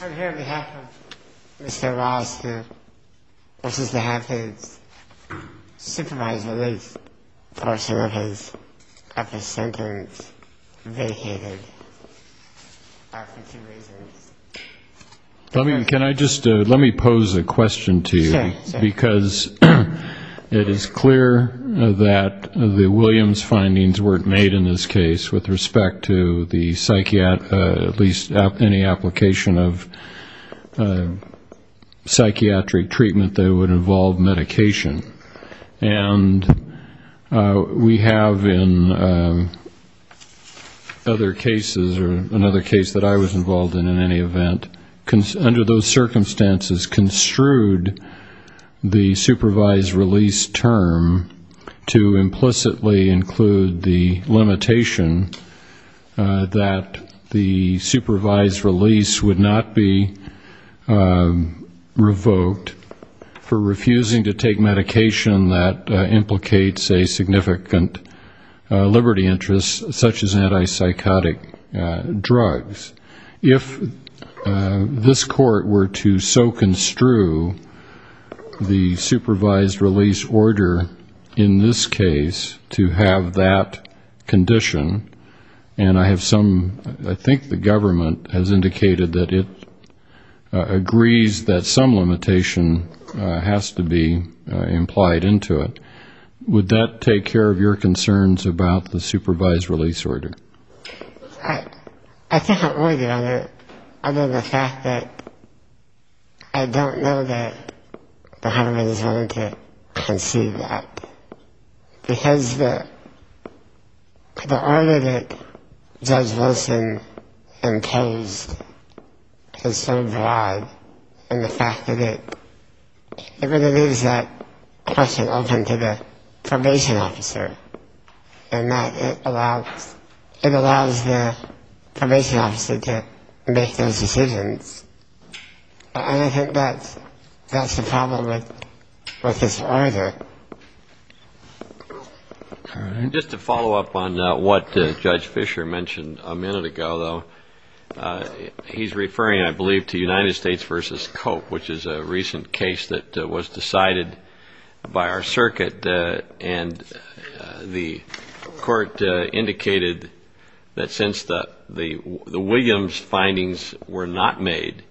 I'm here on behalf of Mr. Ross, who wishes to have his supervised release portion of his sentence vacated for two reasons. Can I just, let me pose a question to you, because it is clear that the Williams findings weren't made in this case with respect to the psychiatric, at least any application of psychiatric treatment that would involve medication. And we have in other cases, or another case that I was involved in in any event, under those circumstances construed the supervised release term to implicitly include the limitation that the supervised release would not be revoked for refusing to take medication that implicates a significant liberty interest, such as anti-psychotic drugs. If this court were to so construe the supervised release order in this case to have that condition, and I have some, I think the government has indicated that it agrees that some limitation has to be implied into it, would that take care of your concerns about the supervised release order? I think I'm worried about it, other than the fact that I don't know that the government is willing to concede that. Because the order that Judge Wilson imposed is so broad, and the fact that it, it really leaves that question open to the probation officer, and that it allows, it allows the probation officer to make those decisions. And I think that's, that's the problem with, with this order. Just to follow up on what Judge Fisher mentioned a minute ago, though, he's referring, I believe, to United States v. Cope, which is a recent case that was decided by our circuit. And the court indicated that since the Williams findings were not made,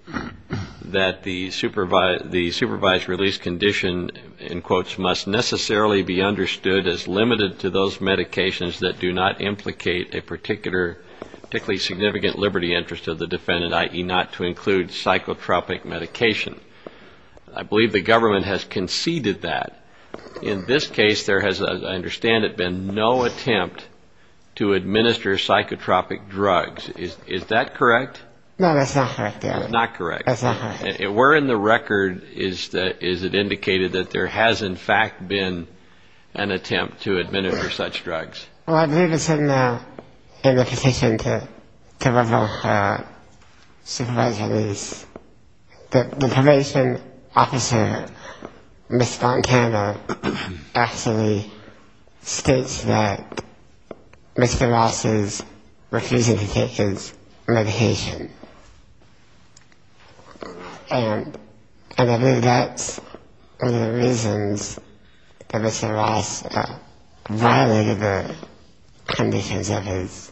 that the supervised release condition, in quotes, must necessarily be understood as limited to those medications that do not implicate a particular, particularly significant liberty interest of the defendant, i.e., not to include psychotropic medication. I believe the government has conceded that. In this case, there has, as I understand it, been no attempt to administer psychotropic drugs. Is, is that correct? No, that's not correct, David. Not correct. That's not correct. Where in the record is, is it indicated that there has, in fact, been an attempt to administer such drugs? Well, I believe it's in the, in the petition to, to revoke her supervised release. The, the probation officer, Ms. Fontana, actually states that Mr. Ross is refusing to take his medication. And, and I believe that's one of the reasons that Mr. Ross violated the conditions of his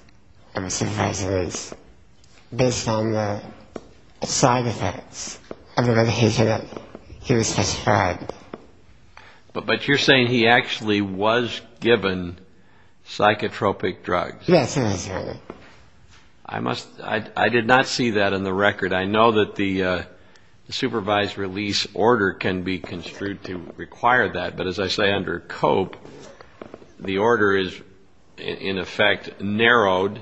supervised release, based on the side effects of the medication that he was prescribed. But, but you're saying he actually was given psychotropic drugs? Yes, that is right. I must, I, I did not see that in the record. I know that the, the supervised release order can be construed to require that. But as I say, under COPE, the order is, in effect, narrowed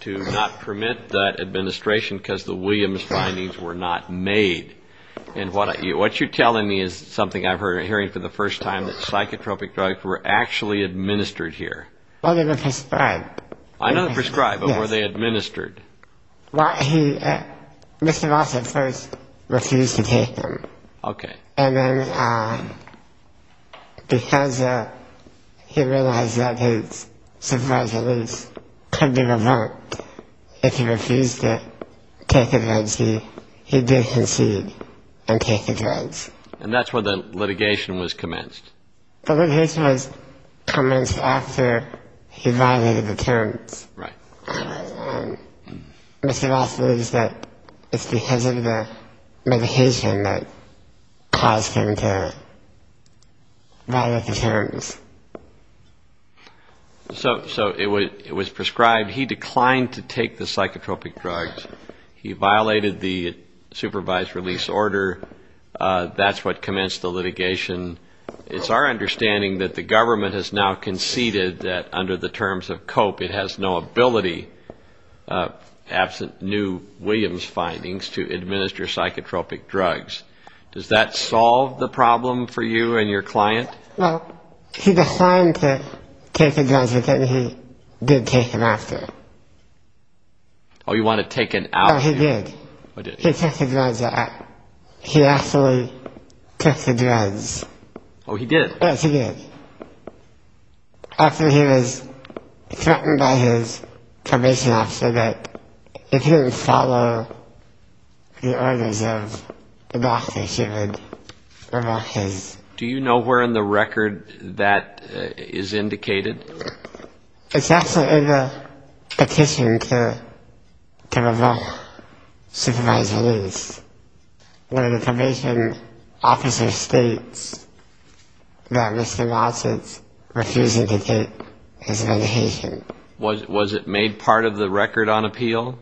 to not permit that administration because the Williams findings were not made. And what I, what you're telling me is something I've heard, hearing for the first time, that psychotropic drugs were actually administered here. Well, they were prescribed. I know they were prescribed, but were they administered? Well, he, Mr. Ross at first refused to take them. Okay. And then, because he realized that his supervised release could be revoked if he refused to take the drugs, he, he did concede and take the drugs. And that's when the litigation was commenced. The litigation was commenced after he violated the terms. Right. And Mr. Ross believes that it's because of the medication that caused him to violate the terms. So, so it was, it was prescribed. He declined to take the psychotropic drugs. He violated the supervised release order. That's what commenced the litigation. It's our understanding that the government has now conceded that, under the terms of COPE, it has no ability, absent new Williams findings, to administer psychotropic drugs. Does that solve the problem for you and your client? Well, he declined to take the drugs, but then he did take them after. Oh, you want to take an out? Oh, he did. He took the drugs out. He actually took the drugs. Oh, he did? Yes, he did. After he was threatened by his probation officer that if he didn't follow the orders of the doctor, she would revoke his... Do you know where in the record that is indicated? It's actually in the petition to, to revoke. Supervised release. One of the probation officers states that Mr. Lawson refused to take his medication. Was it made part of the record on appeal?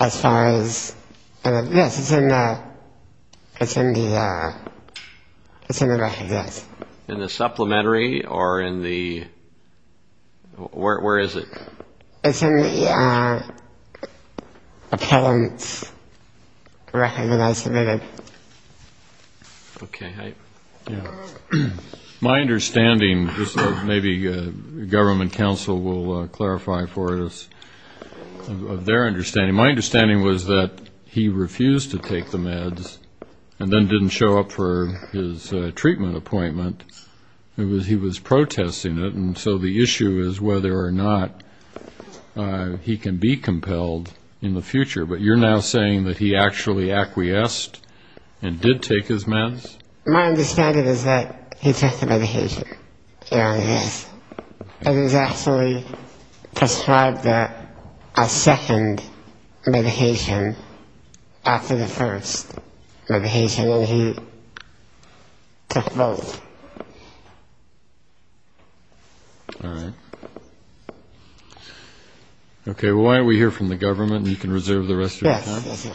As far as, yes, it's in the, it's in the, it's in the record, yes. In the supplementary or in the, where is it? It's in the appellant's record that I submitted. Okay. My understanding, just maybe government counsel will clarify for us their understanding. My understanding was that he refused to take the meds and then didn't show up for his treatment appointment. He was protesting it, and so the issue is whether or not he can be compelled in the future. But you're now saying that he actually acquiesced and did take his meds? My understanding is that he took the medication, yes. It is actually prescribed that a second medication after the first medication, and he took both. All right. Okay, well, why don't we hear from the government, and you can reserve the rest of your time. Yes, yes, sir.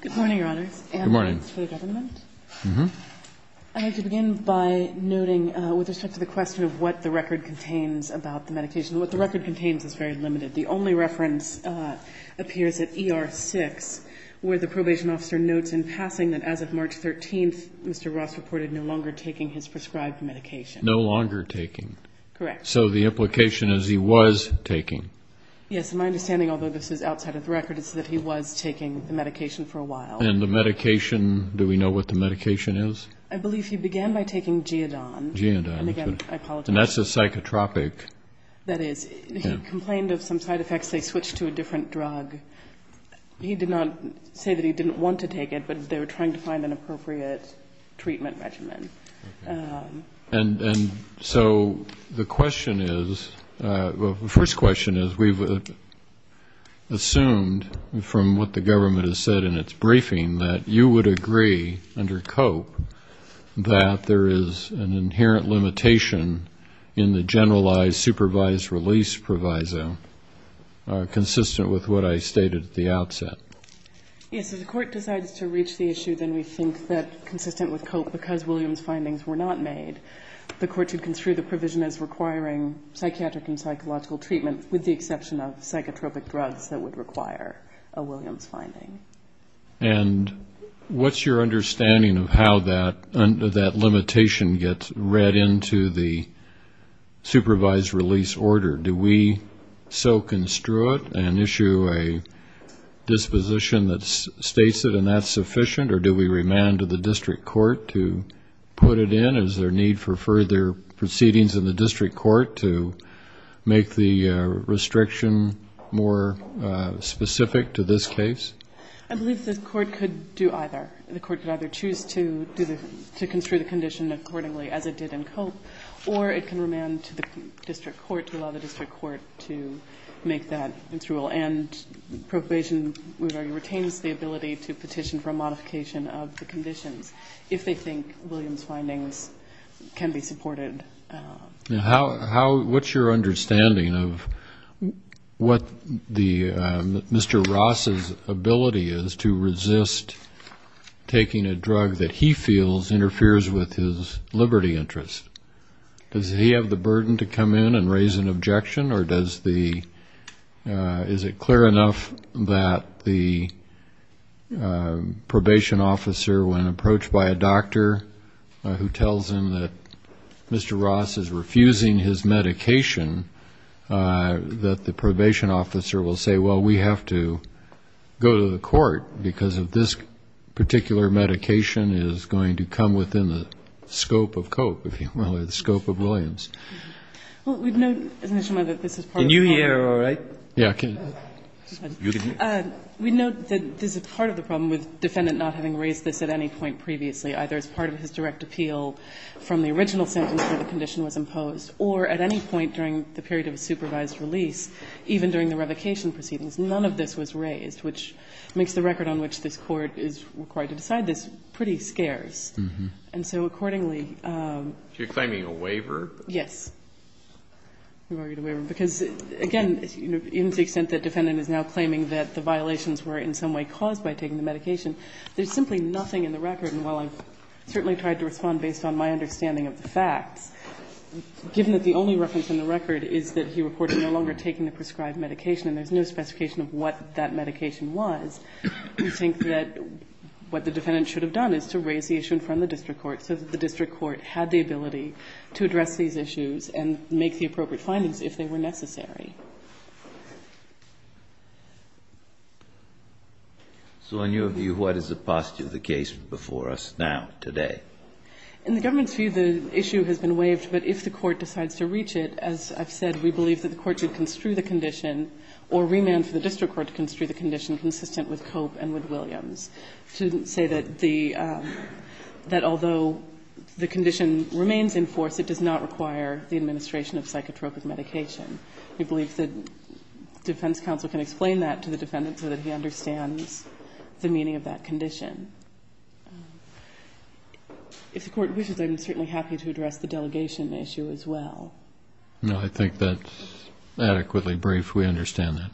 Good morning, Your Honors. Good morning. And thanks for the government. Mm-hmm. I have to begin by noting, with respect to the question of what the record contains about the medication, what the record contains is very limited. The only reference appears at ER 6, where the probation officer notes in passing that as of March 13th, Mr. Ross reported no longer taking his prescribed medication. No longer taking. Correct. So the implication is he was taking. Yes, and my understanding, although this is outside of the record, is that he was taking the medication for a while. And the medication, do we know what the medication is? I believe he began by taking Geodon. Geodon. And again, I apologize. And that's a psychotropic. That is. He complained of some side effects. They switched to a different drug. He did not say that he didn't want to take it, but they were trying to find an appropriate treatment regimen. Okay. And so the question is, well, the first question is we've assumed from what the government has said in its briefing that you would agree under COPE that there is an inherent limitation in the generalized supervised release proviso consistent with what I stated at the outset. Yes, if the court decides to reach the issue, then we think that consistent with COPE, because Williams findings were not made, the court should construe the provision as requiring psychiatric and psychological treatment, with the exception of psychotropic drugs that would require a Williams finding. And what's your understanding of how that limitation gets read into the supervised release order? Do we so construe it and issue a disposition that states it and that's sufficient, or do we remand to the district court to put it in? Is there need for further proceedings in the district court to make the restriction more specific to this case? I believe the court could do either. The court could either choose to construe the condition accordingly, as it did in COPE, or it can remand to the district court to allow the district court to make that its rule. And probation retains the ability to petition for a modification of the conditions, if they think Williams findings can be supported. What's your understanding of what Mr. Ross's ability is to resist taking a drug that he feels interferes with his liberty interest? Does he have the burden to come in and raise an objection, or is it clear enough that the probation officer, when approached by a doctor who tells him that Mr. Ross is refusing his medication, that the probation officer will say, well, we have to go to the court, because this particular medication is going to come within the scope of COPE, if you will, or the scope of Williams? Well, we'd note initially that this is part of the problem. Can you hear all right? Yeah. We note that this is part of the problem with the defendant not having raised this at any point previously, either as part of his direct appeal from the original sentence where the condition was imposed, or at any point during the period of a supervised release, even during the revocation proceedings. None of this was raised, which makes the record on which this Court is required to decide this pretty scarce. And so accordingly, You're claiming a waiver? Yes. We've argued a waiver. Because, again, in the extent that the defendant is now claiming that the violations were in some way caused by taking the medication, there's simply nothing in the record. And while I've certainly tried to respond based on my understanding of the facts, given that the only reference in the record is that he reported no longer taking the prescribed medication and there's no specification of what that medication was, we think that what the defendant should have done is to raise the issue in front of the district court so that the district court had the ability to address these issues and make the appropriate findings if they were necessary. So in your view, what is the paucity of the case before us now, today? In the government's view, the issue has been waived. But if the Court decides to reach it, as I've said, we believe that the Court should either construe the condition or remand for the district court to construe the condition consistent with Cope and with Williams to say that the — that although the condition remains in force, it does not require the administration of psychotropic medication. We believe that defense counsel can explain that to the defendant so that he understands the meaning of that condition. If the Court wishes, I'm certainly happy to address the delegation issue as well. No, I think that's adequately brief. We understand that.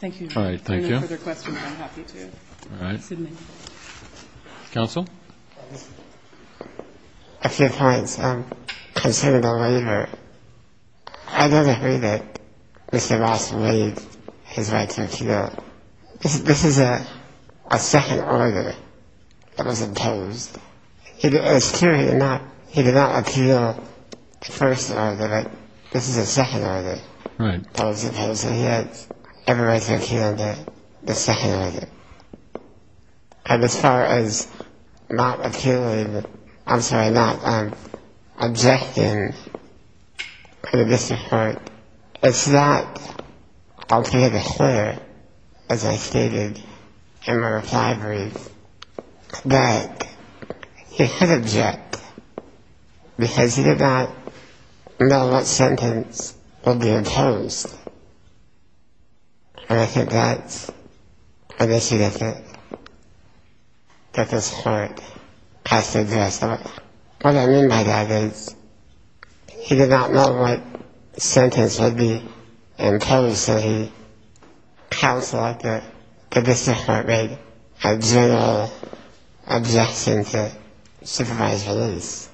Thank you, Judge. All right, thank you. If there are no further questions, I'm happy to. All right. Excuse me. Counsel? A few points. Considering the waiver, I don't agree that Mr. Ross waived his right to appeal. This is a second order that was imposed. It's clear he did not appeal the first order, but this is a second order that was imposed. So he had every right to appeal the second order. And as far as not appealing — I'm sorry, not objecting to the district court, it's not He could object because he did not know what sentence would be imposed. And I think that's an issue that this Court has to address. What I mean by that is he did not know what sentence would be imposed, so he counseled that the district court made a general objection to supervised release.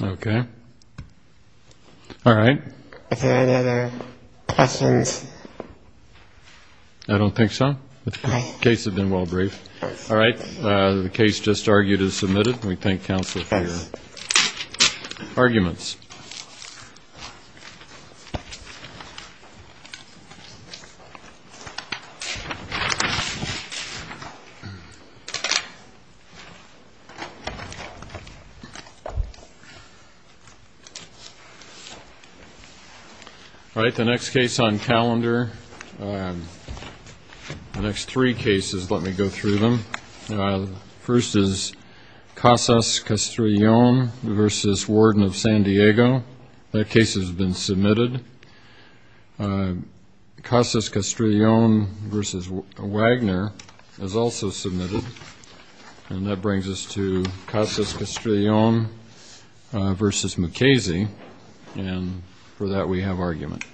Okay. All right. Are there any other questions? I don't think so. The case has been well briefed. All right. The case just argued is submitted. We thank counsel for your arguments. All right. The next case on calendar, the next three cases, let me go through them. First is Casas-Castrillon v. Warden of San Diego. That case has been submitted. Casas-Castrillon v. Wagner is also submitted. And that brings us to Casas-Castrillon v. Mukasey, and for that we have argument.